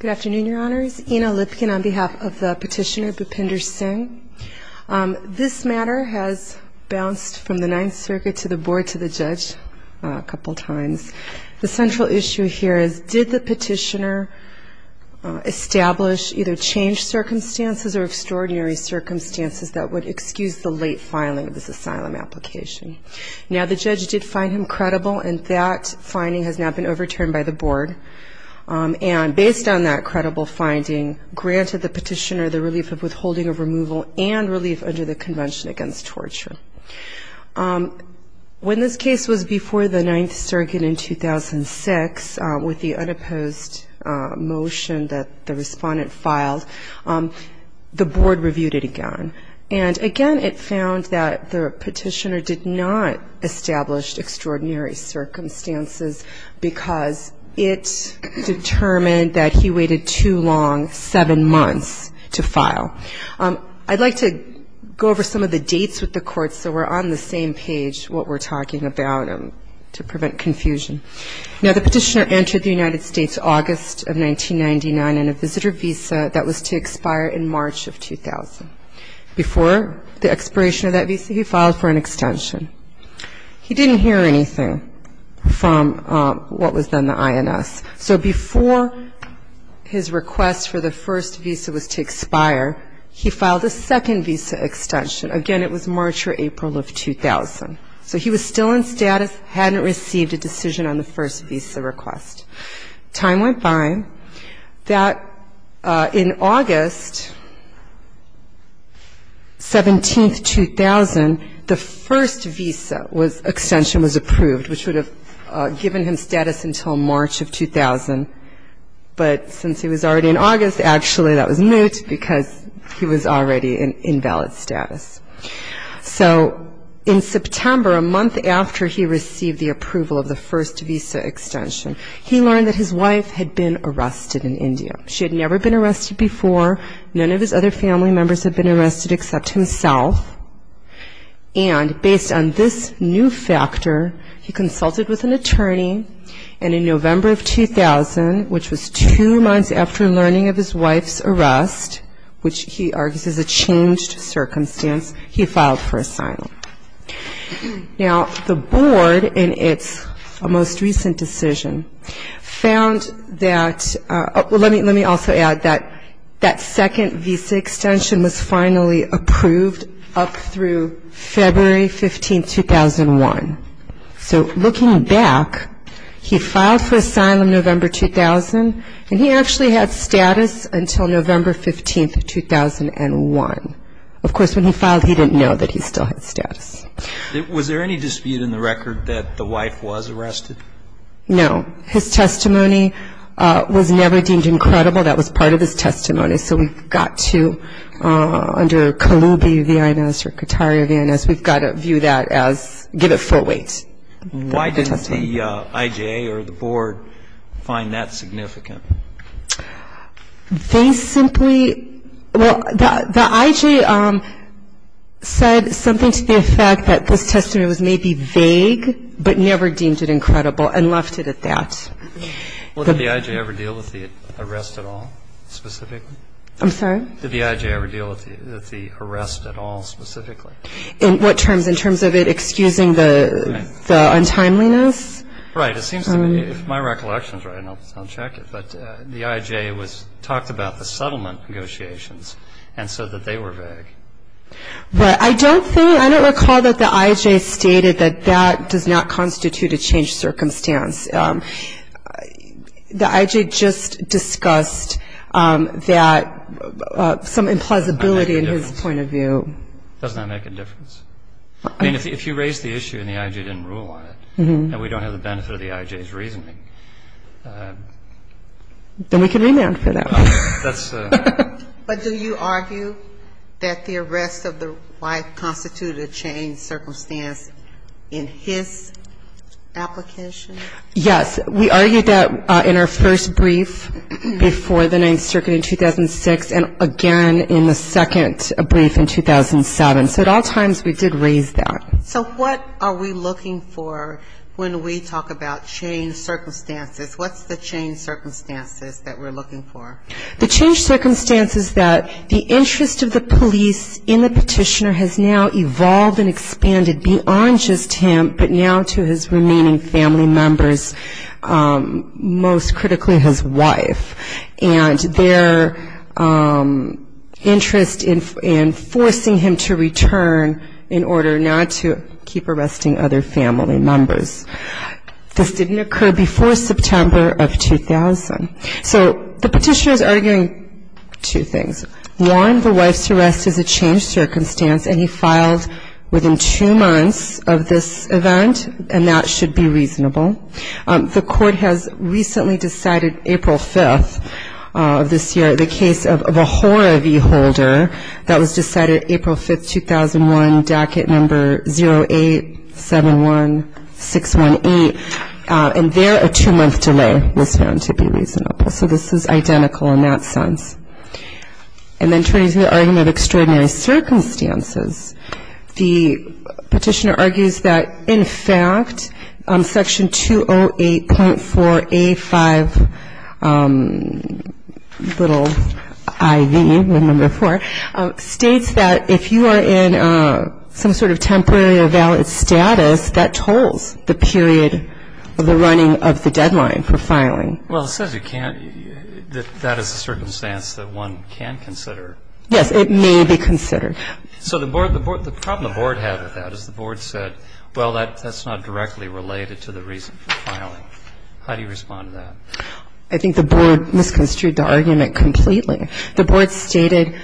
Good afternoon, your honors. Ina Lipkin on behalf of the petitioner Bhupinder Singh. This matter has bounced from the Ninth Circuit to the board to the judge a couple times. The central issue here is did the petitioner establish either changed circumstances or extraordinary circumstances that would excuse the late filing of this asylum application? Now, the judge did find him credible and that finding has now been overturned by the board. And based on that credible finding, granted the petitioner the relief of withholding of removal and relief under the Convention Against Torture. When this case was before the Ninth Circuit in 2006, with the unopposed motion that the respondent filed, the board reviewed it again. And again, it found that the petitioner did not establish extraordinary circumstances because it determined that he waited too long, seven months, to file. I'd like to go over some of the dates with the court so we're on the same page what we're talking about to prevent confusion. Now, the petitioner entered the United States August of 1999 in a visitor visa that was to expire in March of 2000. Before the expiration of that visa, he filed for an extension. He didn't hear anything from what was then the INS. So before his request for the first visa was to expire, he filed a second visa extension. Again, it was March or April of 2000. So he was still in status, hadn't received a decision on the first visa request. Time went by that in August 17, 2000, the first visa extension was approved, which would have given him status until March of 2000. But since he was already in August, actually that was moot because he was already in invalid status. So in September, a month after he received the approval of the first visa extension, he learned that his wife had been arrested in India. She had never been arrested before. None of his other family members had been arrested before. And this new factor, he consulted with an attorney, and in November of 2000, which was two months after learning of his wife's arrest, which he argues is a changed circumstance, he filed for asylum. Now, the board in its most recent decision found that, let me also add that that second visa extension was finally approved up through February 15, 2001. So looking back, he filed for asylum November 2000, and he actually had status until November 15, 2001. Of course, when he filed, he didn't know that he still had status. Was there any dispute in the record that the wife was arrested? No. His testimony was never deemed incredible. That was part of his testimony. So we've got to, under Kalubi v. Inez or Kataria v. Inez, we've got to view that as, give it full weight. Why didn't the IJA or the board find that significant? They simply, well, the IJA said something to the effect that this testimony was maybe vague, but never deemed it incredible. And left it at that. Well, did the IJA ever deal with the arrest at all, specifically? I'm sorry? Did the IJA ever deal with the arrest at all, specifically? In what terms? In terms of it excusing the untimeliness? Right. It seems to me, if my recollection is right, and I'll check it, but the IJA talked about the settlement negotiations and said that they were vague. But I don't think, I don't recall that the IJA stated that that does not constitute a changed circumstance. The IJA just discussed that some implausibility in his point of view. Doesn't that make a difference? I mean, if you raise the issue and the IJA didn't rule on it, and we don't have the benefit of the IJA's reasoning. Then we can remand for that. But does the arrest of the wife constitute a changed circumstance in his application? Yes. We argued that in our first brief before the Ninth Circuit in 2006, and again in the second brief in 2007. So at all times we did raise that. So what are we looking for when we talk about changed circumstances? What's the changed circumstances that we're looking for? The changed circumstances that the interest of the police in the petitioner has now evolved and expanded beyond just him, but now to his remaining family members, most critically his wife. And their interest in forcing him to return in order not to keep arresting other family members. This didn't occur before September of 2000. So the petitioner is arguing two things. One, the wife's arrest is a changed circumstance, and he filed within two months of this event, and that should be reasonable. The court has recently decided April 5th of this year, the case of a Hora v. Holder, that was decided April 5th, 2001, and it was found to be reasonable. So this is identical in that sense. And then turning to the argument of extraordinary circumstances, the petitioner argues that, in fact, Section 208.4A.5, little IV, states that if you are in some sort of temporary or valid status, that tolls the period of the running of the deadline for filing. Well, it says you can't, that that is a circumstance that one can consider. Yes, it may be considered. So the problem the board had with that is the board said, well, that's not directly related to the reason for filing. How do you respond to that? I think the board misconstrued the argument completely. The board stated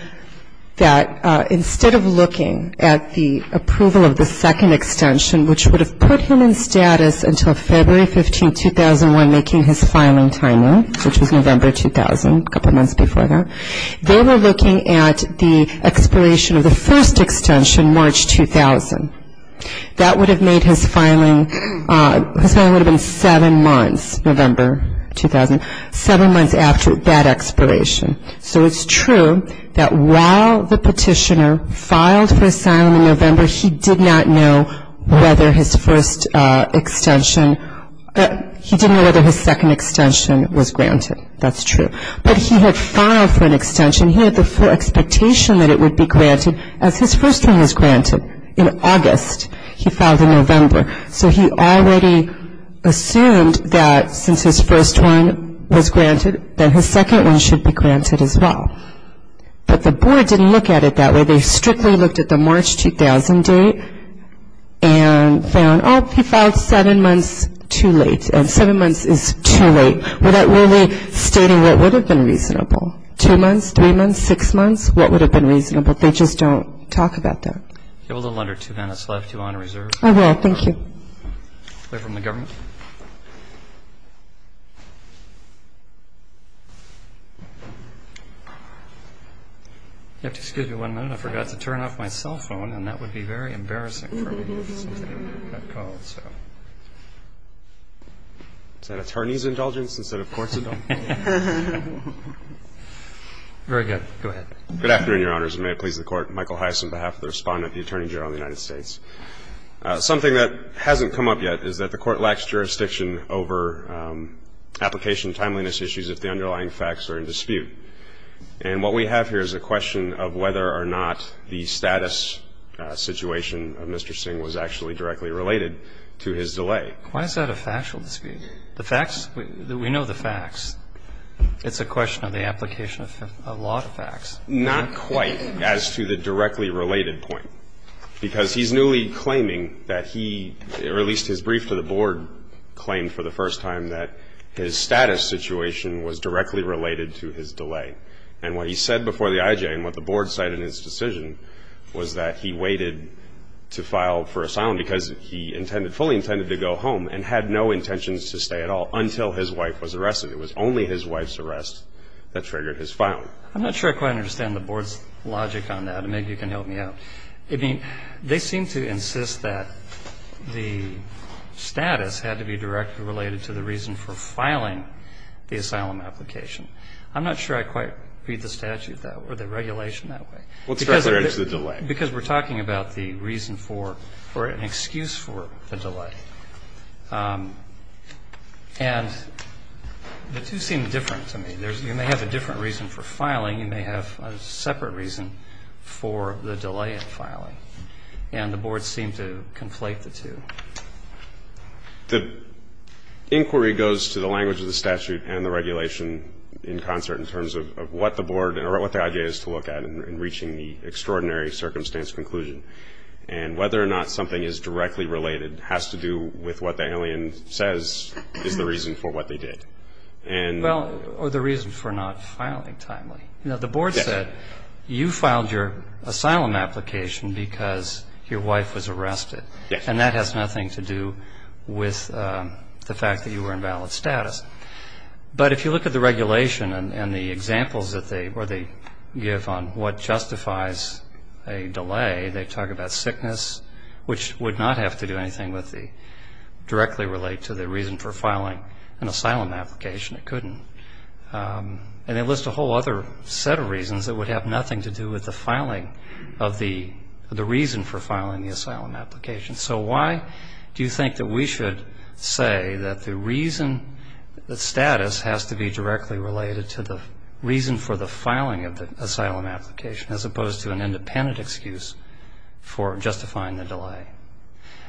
that instead of looking at the approval of the second extension, which would have put him in status until February 15, 2001, making his filing time in, which was November 2000, a couple months before that, they were looking at the expiration of the first extension, March 2000. That would have made his filing, his filing would have been seven months, November 2000. Seven months after that expiration. So it's true that while the petitioner filed for asylum in November, he did not know whether his first extension, he didn't know whether his second extension was granted. That's true. But he had filed for an extension, he had the full expectation that it would be granted, as his first one was granted in August. He filed in November, so he already assumed that since his first one was granted, that his second one should be granted as well. But the board didn't look at it that way. They strictly looked at the March 2000 date and found, oh, he filed seven months too late, and seven months is too late. Without really stating what would have been reasonable. Two months, three months, six months, what would have been reasonable, they just don't talk about that. I have a little under two minutes left, if you want to reserve. I will, thank you. If you'll excuse me one minute, I forgot to turn off my cell phone, and that would be very embarrassing for me. Is that an attorney's indulgence instead of court's indulgence? Very good, go ahead. Good afternoon, Your Honors, and may it please the Court, Michael Heiss on behalf of the Respondent, the Attorney General of the United States. Something that hasn't come up yet is that the Court lacks jurisdiction over application timeliness issues if the underlying facts are in dispute. And what we have here is a question of whether or not the status situation of Mr. Singh was actually in dispute. And whether or not the status situation of Mr. Singh was actually directly related to his delay. Why is that a factual dispute? The facts, we know the facts. It's a question of the application of a lot of facts. Not quite as to the directly related point, because he's newly claiming that he released his brief to the Board, claimed for the first time that his status situation was directly related to his delay. And what he said before the IJ and what the Board cited in his decision was that he waited to file for asylum in order to be able to file for asylum. Because he intended, fully intended to go home and had no intentions to stay at all until his wife was arrested. It was only his wife's arrest that triggered his filing. I'm not sure I quite understand the Board's logic on that, and maybe you can help me out. I mean, they seem to insist that the status had to be directly related to the reason for filing the asylum application. I'm not sure I quite read the statute or the regulation that way. Because we're talking about the reason for, or an excuse for the delay. And the two seem different to me. You may have a different reason for filing. You may have a separate reason for the delay in filing. And the Board seemed to conflate the two. The inquiry goes to the language of the statute and the regulation in concert in terms of what the Board, or what the IJ has to look at in reaching a conclusion. And whether or not something is directly related has to do with what the alien says is the reason for what they did. Well, or the reason for not filing timely. You know, the Board said, you filed your asylum application because your wife was arrested. And that has nothing to do with the fact that you were in valid status. But if you look at the regulation and the examples that they, or they give on what justifies a delay, they talk about sickness, which would not have to do anything with the, directly relate to the reason for filing an asylum application. It couldn't. And they list a whole other set of reasons that would have nothing to do with the filing of the, the reason for filing the asylum application. So why do you think that we should say that the reason, the status has to be directly related to the reason for the filing of the asylum application, as opposed to an independent excuse for justifying the delay?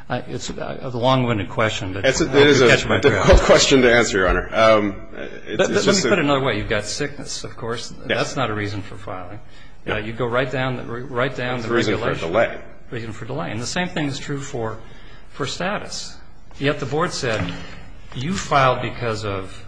It's a long-winded question, but I hope you catch my drift. It's a difficult question to answer, Your Honor. Let me put it another way. You've got sickness, of course. That's not a reason for filing. You go right down, right down the regulation. Reason for delay. Reason for delay. And the same thing is true for, for status. Yet the Board said, you filed because of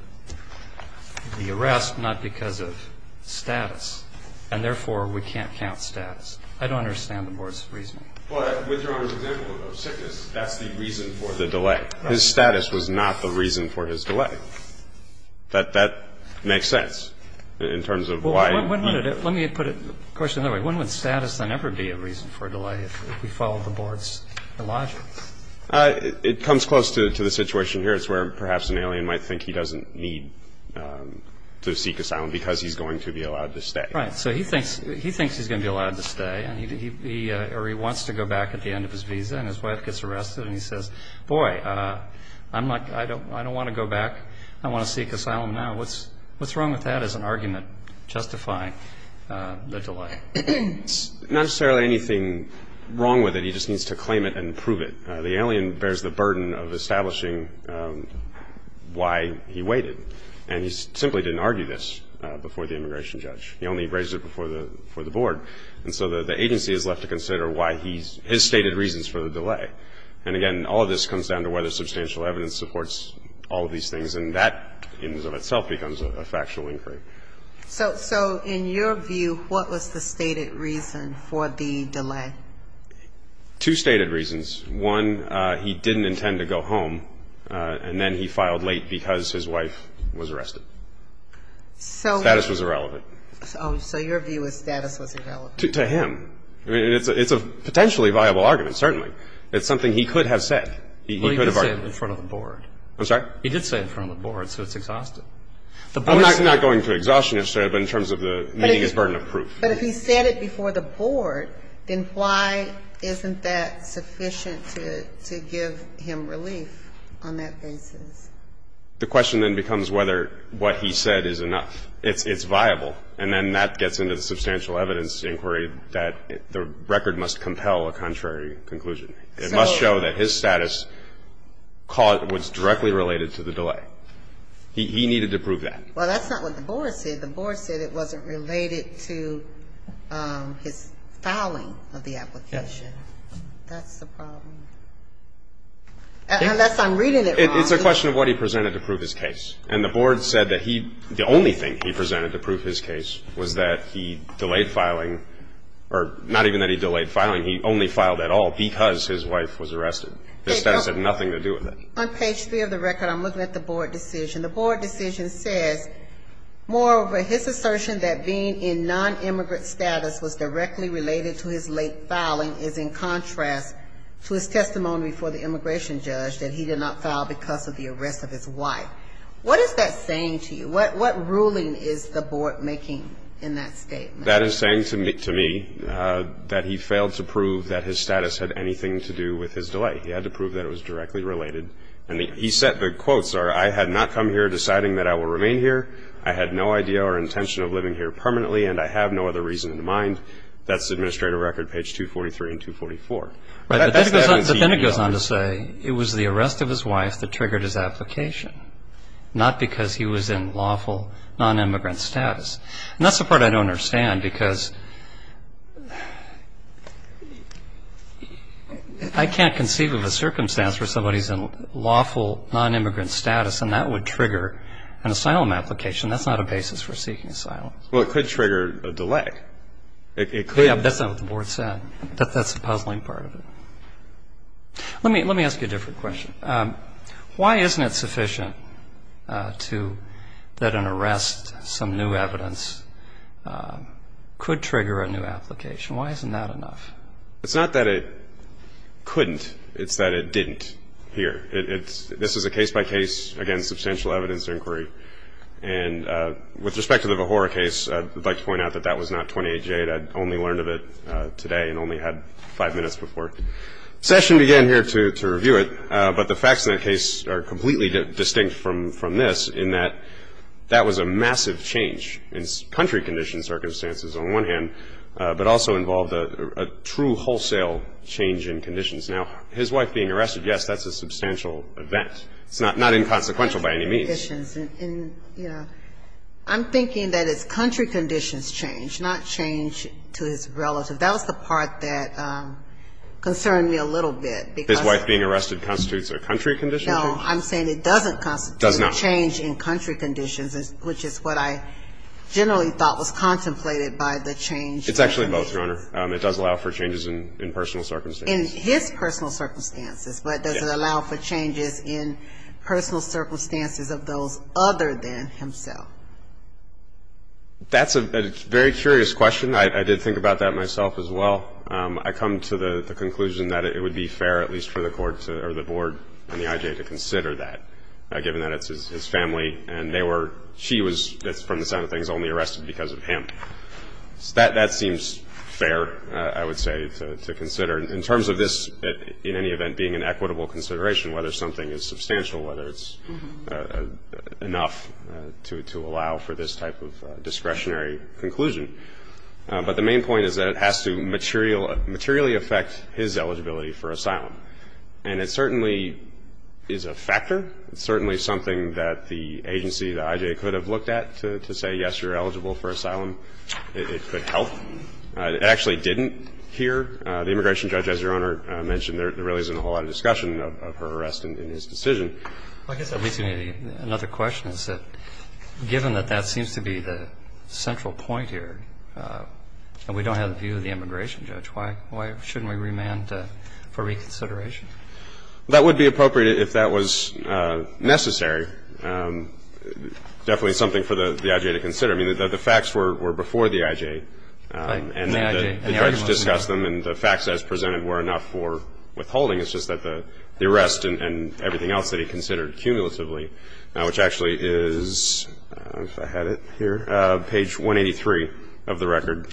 the arrest, not because of status. And therefore, we can't count status. I don't understand the Board's reasoning. But with Your Honor's example of sickness, that's the reason for the delay. His status was not the reason for his delay. That, that makes sense in terms of why. Let me put it, of course, another way. When would status then ever be a reason for a delay if we followed the Board's logic? It comes close to, to the situation here. It's where perhaps an alien might think he doesn't need to seek asylum because he's going to be allowed to stay. Right. So he thinks, he thinks he's going to be allowed to stay. Or he wants to go back at the end of his visa. And his wife gets arrested. And he says, boy, I'm not, I don't want to go back. I want to seek asylum now. What's wrong with that as an argument justifying the delay? Not necessarily anything wrong with it. He just needs to claim it and prove it. The alien bears the burden of establishing why he waited. And he simply didn't argue this before the immigration judge. He only raised it before the Board. And so the agency is left to consider why he's, his stated reasons for the delay. And again, all of this comes down to whether substantial evidence supports all of these things. And that in and of itself becomes a factual inquiry. So, so in your view, what was the stated reason for the delay? Two stated reasons. One, he didn't intend to go home. And then he filed late because his wife was arrested. So. Status was irrelevant. So, so your view is status was irrelevant. To him. I mean, it's a, it's a potentially viable argument, certainly. It's something he could have said. He could have argued. Well, he did say it in front of the Board. I'm sorry? He did say it in front of the Board. So it's exhausted. I'm not, I'm not going to exhaustion it, but in terms of the meeting his burden of proof. But if he said it before the Board, then why isn't that sufficient to, to give him relief? On that basis. The question then becomes whether what he said is enough. It's, it's viable. And then that gets into the substantial evidence inquiry that the record must compel a contrary conclusion. So. It must show that his status was directly related to the delay. He, he needed to prove that. Well, that's not what the Board said. The Board said it wasn't related to his filing of the application. Yes. That's the problem. Unless I'm reading it wrong. It's a question of what he presented to prove his case. And the Board said that he, the only thing he presented to prove his case was that he delayed filing. Or not even that he delayed filing. He only filed at all because his wife was arrested. His status had nothing to do with it. On page three of the record, I'm looking at the Board decision. The Board decision says, moreover, his assertion that being in non-immigrant status was directly related to his late filing is in contrast to his testimony before the immigration judge that he did not file because of the arrest of his wife. What is that saying to you? What, what ruling is the Board making in that statement? That is saying to me, to me, that he failed to prove that his status had anything to do with his delay. He had to prove that it was directly related. And he said, the quotes are, I had not come here deciding that I will remain here. I had no idea or intention of living here permanently. And I have no other reason in mind. That's the administrative record, page 243 and 244. But then it goes on to say, it was the arrest of his wife that triggered his application. Not because he was in lawful non-immigrant status. And that's the part I don't understand because I can't conceive of a circumstance where somebody's in lawful non-immigrant status and that would trigger an asylum application. That's not a basis for seeking asylum. Well, it could trigger a delay. It could. Yeah, but that's not what the Board said. That's the puzzling part of it. Let me, let me ask you a different question. Why isn't it sufficient to, that an arrest, some new evidence, could trigger a new application? Why isn't that enough? It's not that it couldn't. It's that it didn't here. This is a case-by-case, again, substantial evidence inquiry. And with respect to the Vahora case, I'd like to point out that that was not 28-J. I'd only learned of it today and only had five minutes before session began here to review it. But the facts in that case are completely distinct from this in that that was a massive change in country condition circumstances on one hand, but also involved a true wholesale change in conditions. Now, his wife being arrested, yes, that's a substantial event. It's not inconsequential by any means. And, you know, I'm thinking that it's country conditions change, not change to his relative. That was the part that concerned me a little bit. His wife being arrested constitutes a country condition change? No. I'm saying it doesn't constitute a change in country conditions, which is what I generally thought was contemplated by the change in conditions. It's actually both, Your Honor. It does allow for changes in personal circumstances. In his personal circumstances, but does it allow for changes in personal circumstances of those other than himself? That's a very curious question. I did think about that myself as well. I come to the conclusion that it would be fair, at least for the court or the board and the IJ to consider that, given that it's his family and they were – she was, from the sound of things, only arrested because of him. That seems fair, I would say, to consider. In terms of this, in any event, being an equitable consideration, whether something is substantial, whether it's enough to allow for this type of discretionary conclusion. But the main point is that it has to materially affect his eligibility for asylum. And it certainly is a factor. It's certainly something that the agency, the IJ, could have looked at to say, yes, you're eligible for asylum. It could help. It actually didn't here. The immigration judge, as Your Honor mentioned, there really isn't a whole lot of discussion of her arrest and his decision. Another question is that, given that that seems to be the central point here and we don't have the view of the immigration judge, why shouldn't we remand for reconsideration? That would be appropriate if that was necessary. Definitely something for the IJ to consider. The facts were before the IJ and the judge discussed them and the facts as presented were enough for withholding. It's just that the arrest and everything else that he considered cumulatively, which actually is, if I had it here, page 183 of the record.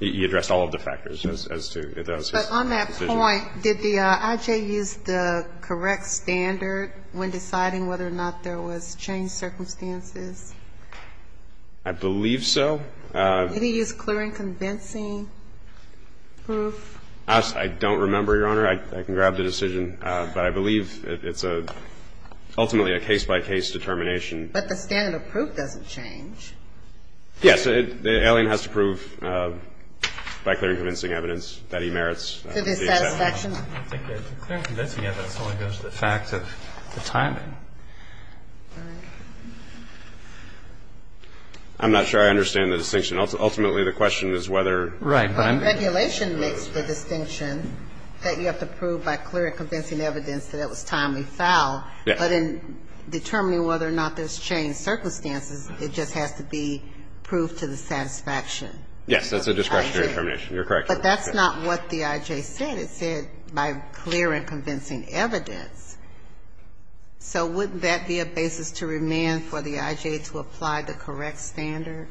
He addressed all of the factors as to his decision. But on that point, did the IJ use the correct standard when deciding whether or not there was changed circumstances? I believe so. Did he use clear and convincing proof? I don't remember, Your Honor. I can grab the decision. But I believe it's ultimately a case-by-case determination. But the standard of proof doesn't change. Yes. The alien has to prove, by clear and convincing evidence, that he merits the acceptance. I think the clear and convincing evidence only goes to the fact of the timing. I'm not sure I understand the distinction. Ultimately, the question is whether the regulation makes the distinction that you have to prove by clear and convincing evidence that it was timely foul. But in determining whether or not there's changed circumstances, it just has to be proof to the satisfaction. Yes. That's a discretionary determination. You're correct. But that's not what the IJ said. It said by clear and convincing evidence. So wouldn't that be a basis to remand for the IJ to apply the correct standard?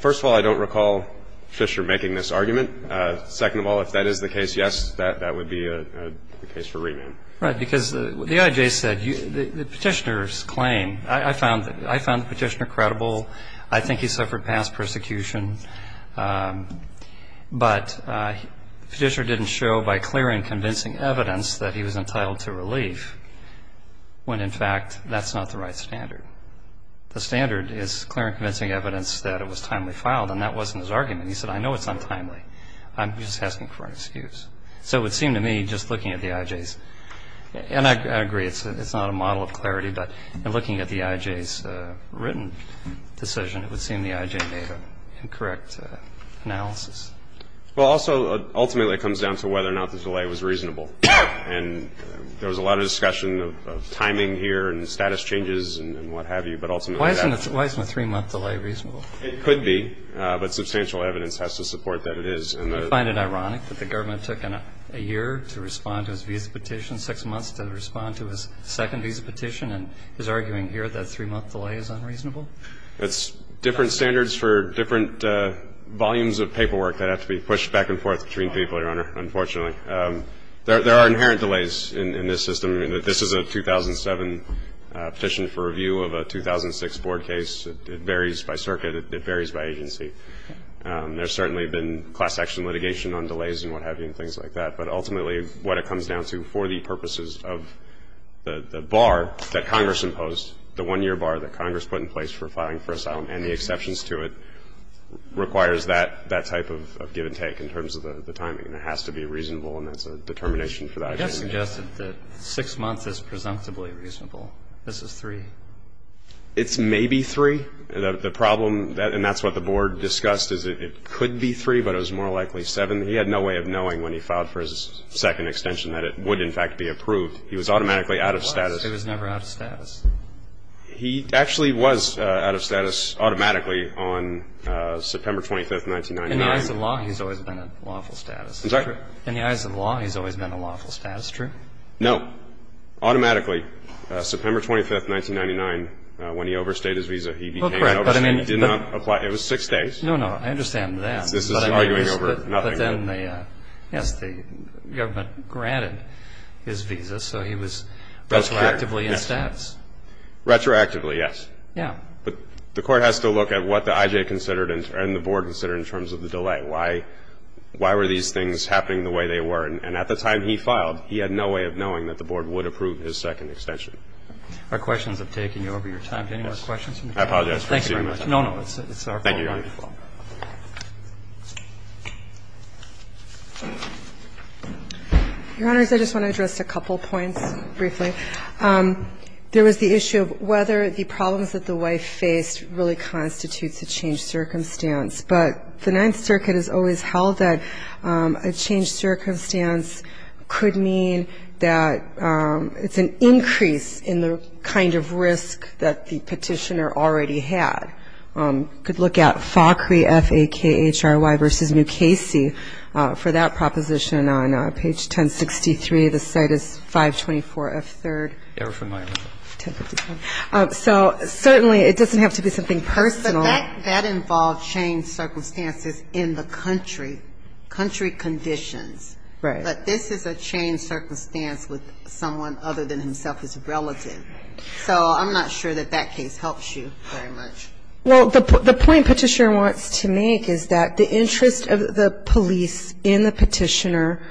First of all, I don't recall Fisher making this argument. Second of all, if that is the case, yes, that would be a case for remand. Right. Because the IJ said the Petitioner's claim, I found the Petitioner credible. I think he suffered past persecution. But the Petitioner didn't show by clear and convincing evidence that he was entitled to relief. When, in fact, that's not the right standard. The standard is clear and convincing evidence that it was timely fouled, and that wasn't his argument. He said, I know it's untimely. I'm just asking for an excuse. So it would seem to me, just looking at the IJ's, and I agree, it's not a model of clarity, but in looking at the IJ's written decision, it would seem the IJ made an incorrect analysis. Well, also, ultimately, it comes down to whether or not the delay was reasonable. And there was a lot of discussion of timing here, and status changes, and what have you. But ultimately, that's why. Why isn't a three-month delay reasonable? It could be. But substantial evidence has to support that it is. Do you find it ironic that the government took a year to respond to his visa petition, six months to respond to his second visa petition, and is arguing here that a three-month delay is unreasonable? It's different standards for different volumes of paperwork that have to be pushed back and forth between people, Your Honor, unfortunately. There are inherent delays in this system. This is a 2007 petition for review of a 2006 board case. It varies by circuit. It varies by agency. There's certainly been class action litigation on delays and what have you and things like that. But ultimately, what it comes down to for the purposes of the bar that Congress imposed, the one-year bar that Congress put in place for filing for asylum, and the exceptions to it, requires that type of give and take in terms of the timing. It has to be reasonable, and that's a determination for the agenda. You just suggested that six months is presumptively reasonable. This is three. It's maybe three. The problem, and that's what the board discussed, is it could be three, but it was more likely seven. He had no way of knowing when he filed for his second extension that it would, in fact, be approved. He was automatically out of status. It was never out of status. He actually was out of status automatically on September 25, 1999. In the eyes of law, he's always been in lawful status. Is that true? In the eyes of law, he's always been in lawful status. True? No. Automatically. September 25, 1999, when he overstayed his visa, he became an overstate. He did not apply. It was six days. No, no. I understand that. This is arguing over nothing. But then the government granted his visa, so he was retroactively in status. Retroactively, yes. Yeah. But the Court has to look at what the IJ considered and the board considered in terms of the delay. Why were these things happening the way they were? And at the time he filed, he had no way of knowing that the board would approve his second extension. Our questions have taken you over your time. Do you have any more questions? I apologize for exceeding my time. No, no. It's our fault. Thank you, Your Honor. Your Honors, I just want to address a couple points briefly. There was the issue of whether the problems that the wife faced really constitutes a changed circumstance. But the Ninth Circuit has always held that a changed circumstance could mean that it's an increase in the kind of risk that the petitioner already had. You could look at FACRI, F-A-K-H-R-Y, versus Mukasey for that proposition on page 1063. The site is 524 F-3rd. So certainly it doesn't have to be something personal. But that involved changed circumstances in the country, country conditions. Right. But this is a changed circumstance with someone other than himself as a relative. So I'm not sure that that case helps you very much. Well, the point Petitioner wants to make is that the interest of the police in the petitioner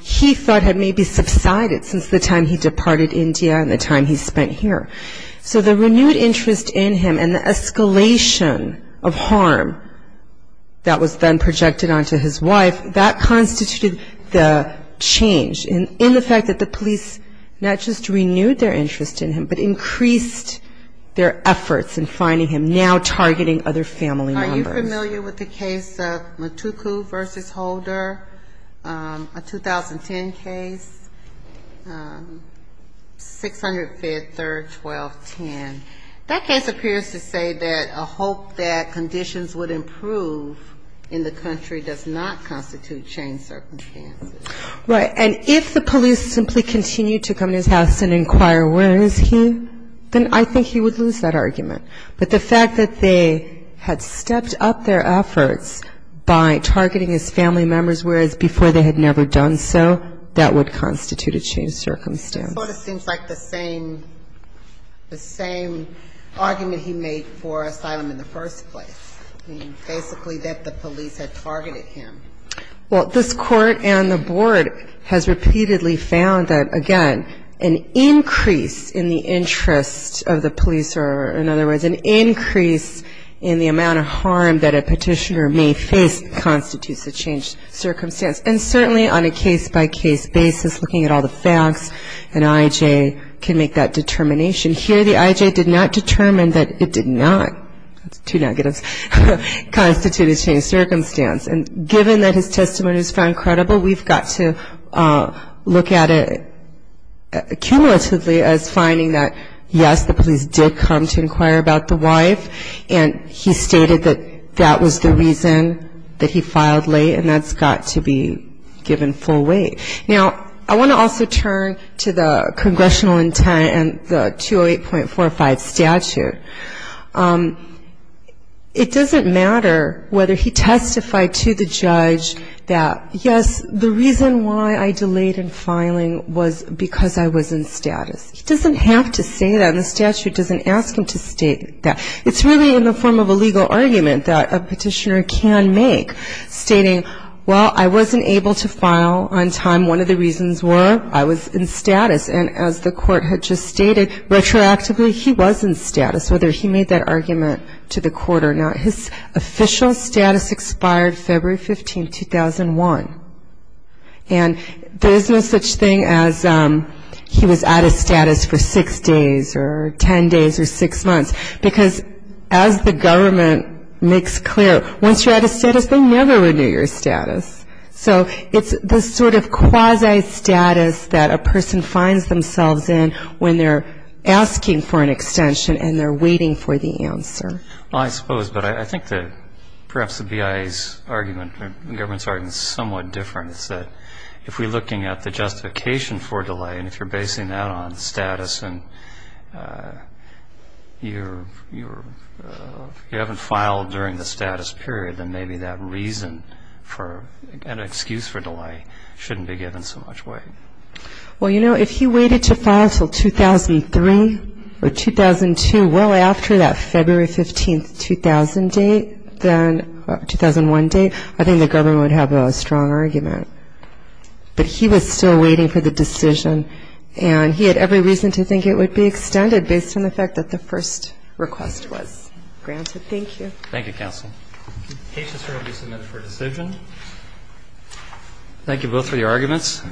he thought had maybe subsided since the time he departed India and the time he spent here. So the renewed interest in him and the escalation of harm that was then projected onto his wife, that constituted the change in the fact that the police not just renewed their interest in him but increased their efforts in finding him, now targeting other family members. I'm not familiar with the case of Mutuku v. Holder, a 2010 case, 600 F-3rd, 1210. That case appears to say that a hope that conditions would improve in the country does not constitute changed circumstances. Right. And if the police simply continued to come to his house and inquire where is he, then I think he would lose that argument. But the fact that they had stepped up their efforts by targeting his family members whereas before they had never done so, that would constitute a changed circumstance. It sort of seems like the same argument he made for asylum in the first place. I mean, basically that the police had targeted him. Well, this court and the board has repeatedly found that, again, an increase in the interest of the police or, in other words, an increase in the amount of harm that a petitioner may face constitutes a changed circumstance. And certainly on a case-by-case basis, looking at all the facts, an I.J. can make that determination. Here the I.J. did not determine that it did not, that's two negatives, constitute a changed circumstance. And given that his testimony is found credible, we've got to look at it cumulatively as finding that, yes, the police did come to inquire about the wife, and he stated that that was the reason that he filed late, and that's got to be given full weight. Now, I want to also turn to the congressional intent and the 208.45 statute. It doesn't matter whether he testified to the judge that, yes, the reason why I delayed in filing was because I was in status. He doesn't have to say that, and the statute doesn't ask him to state that. It's really in the form of a legal argument that a petitioner can make, stating, well, I wasn't able to file on time. One of the reasons were I was in status. And as the court had just stated, retroactively, he was in status, whether he made that argument to the court or not. His official status expired February 15, 2001. And there's no such thing as he was out of status for six days or ten days or six months, because as the government makes clear, once you're out of status, they never renew your status. So it's the sort of quasi-status that a person finds themselves in when they're asking for an extension and they're waiting for the answer. Well, I suppose. But I think that perhaps the BIA's argument and the government's argument is somewhat different. It's that if we're looking at the justification for delay and if you're basing that on status and you haven't filed during the status period, then maybe that reason for an excuse for delay shouldn't be given so much weight. Well, you know, if he waited to file until 2003 or 2002, well, after that February 15, 2001 date, I think the government would have a strong argument. But he was still waiting for the decision, and he had every reason to think it would be extended based on the fact that the first request was granted. Thank you. Thank you, counsel. Patients are going to be submitted for a decision. Thank you both for your arguments.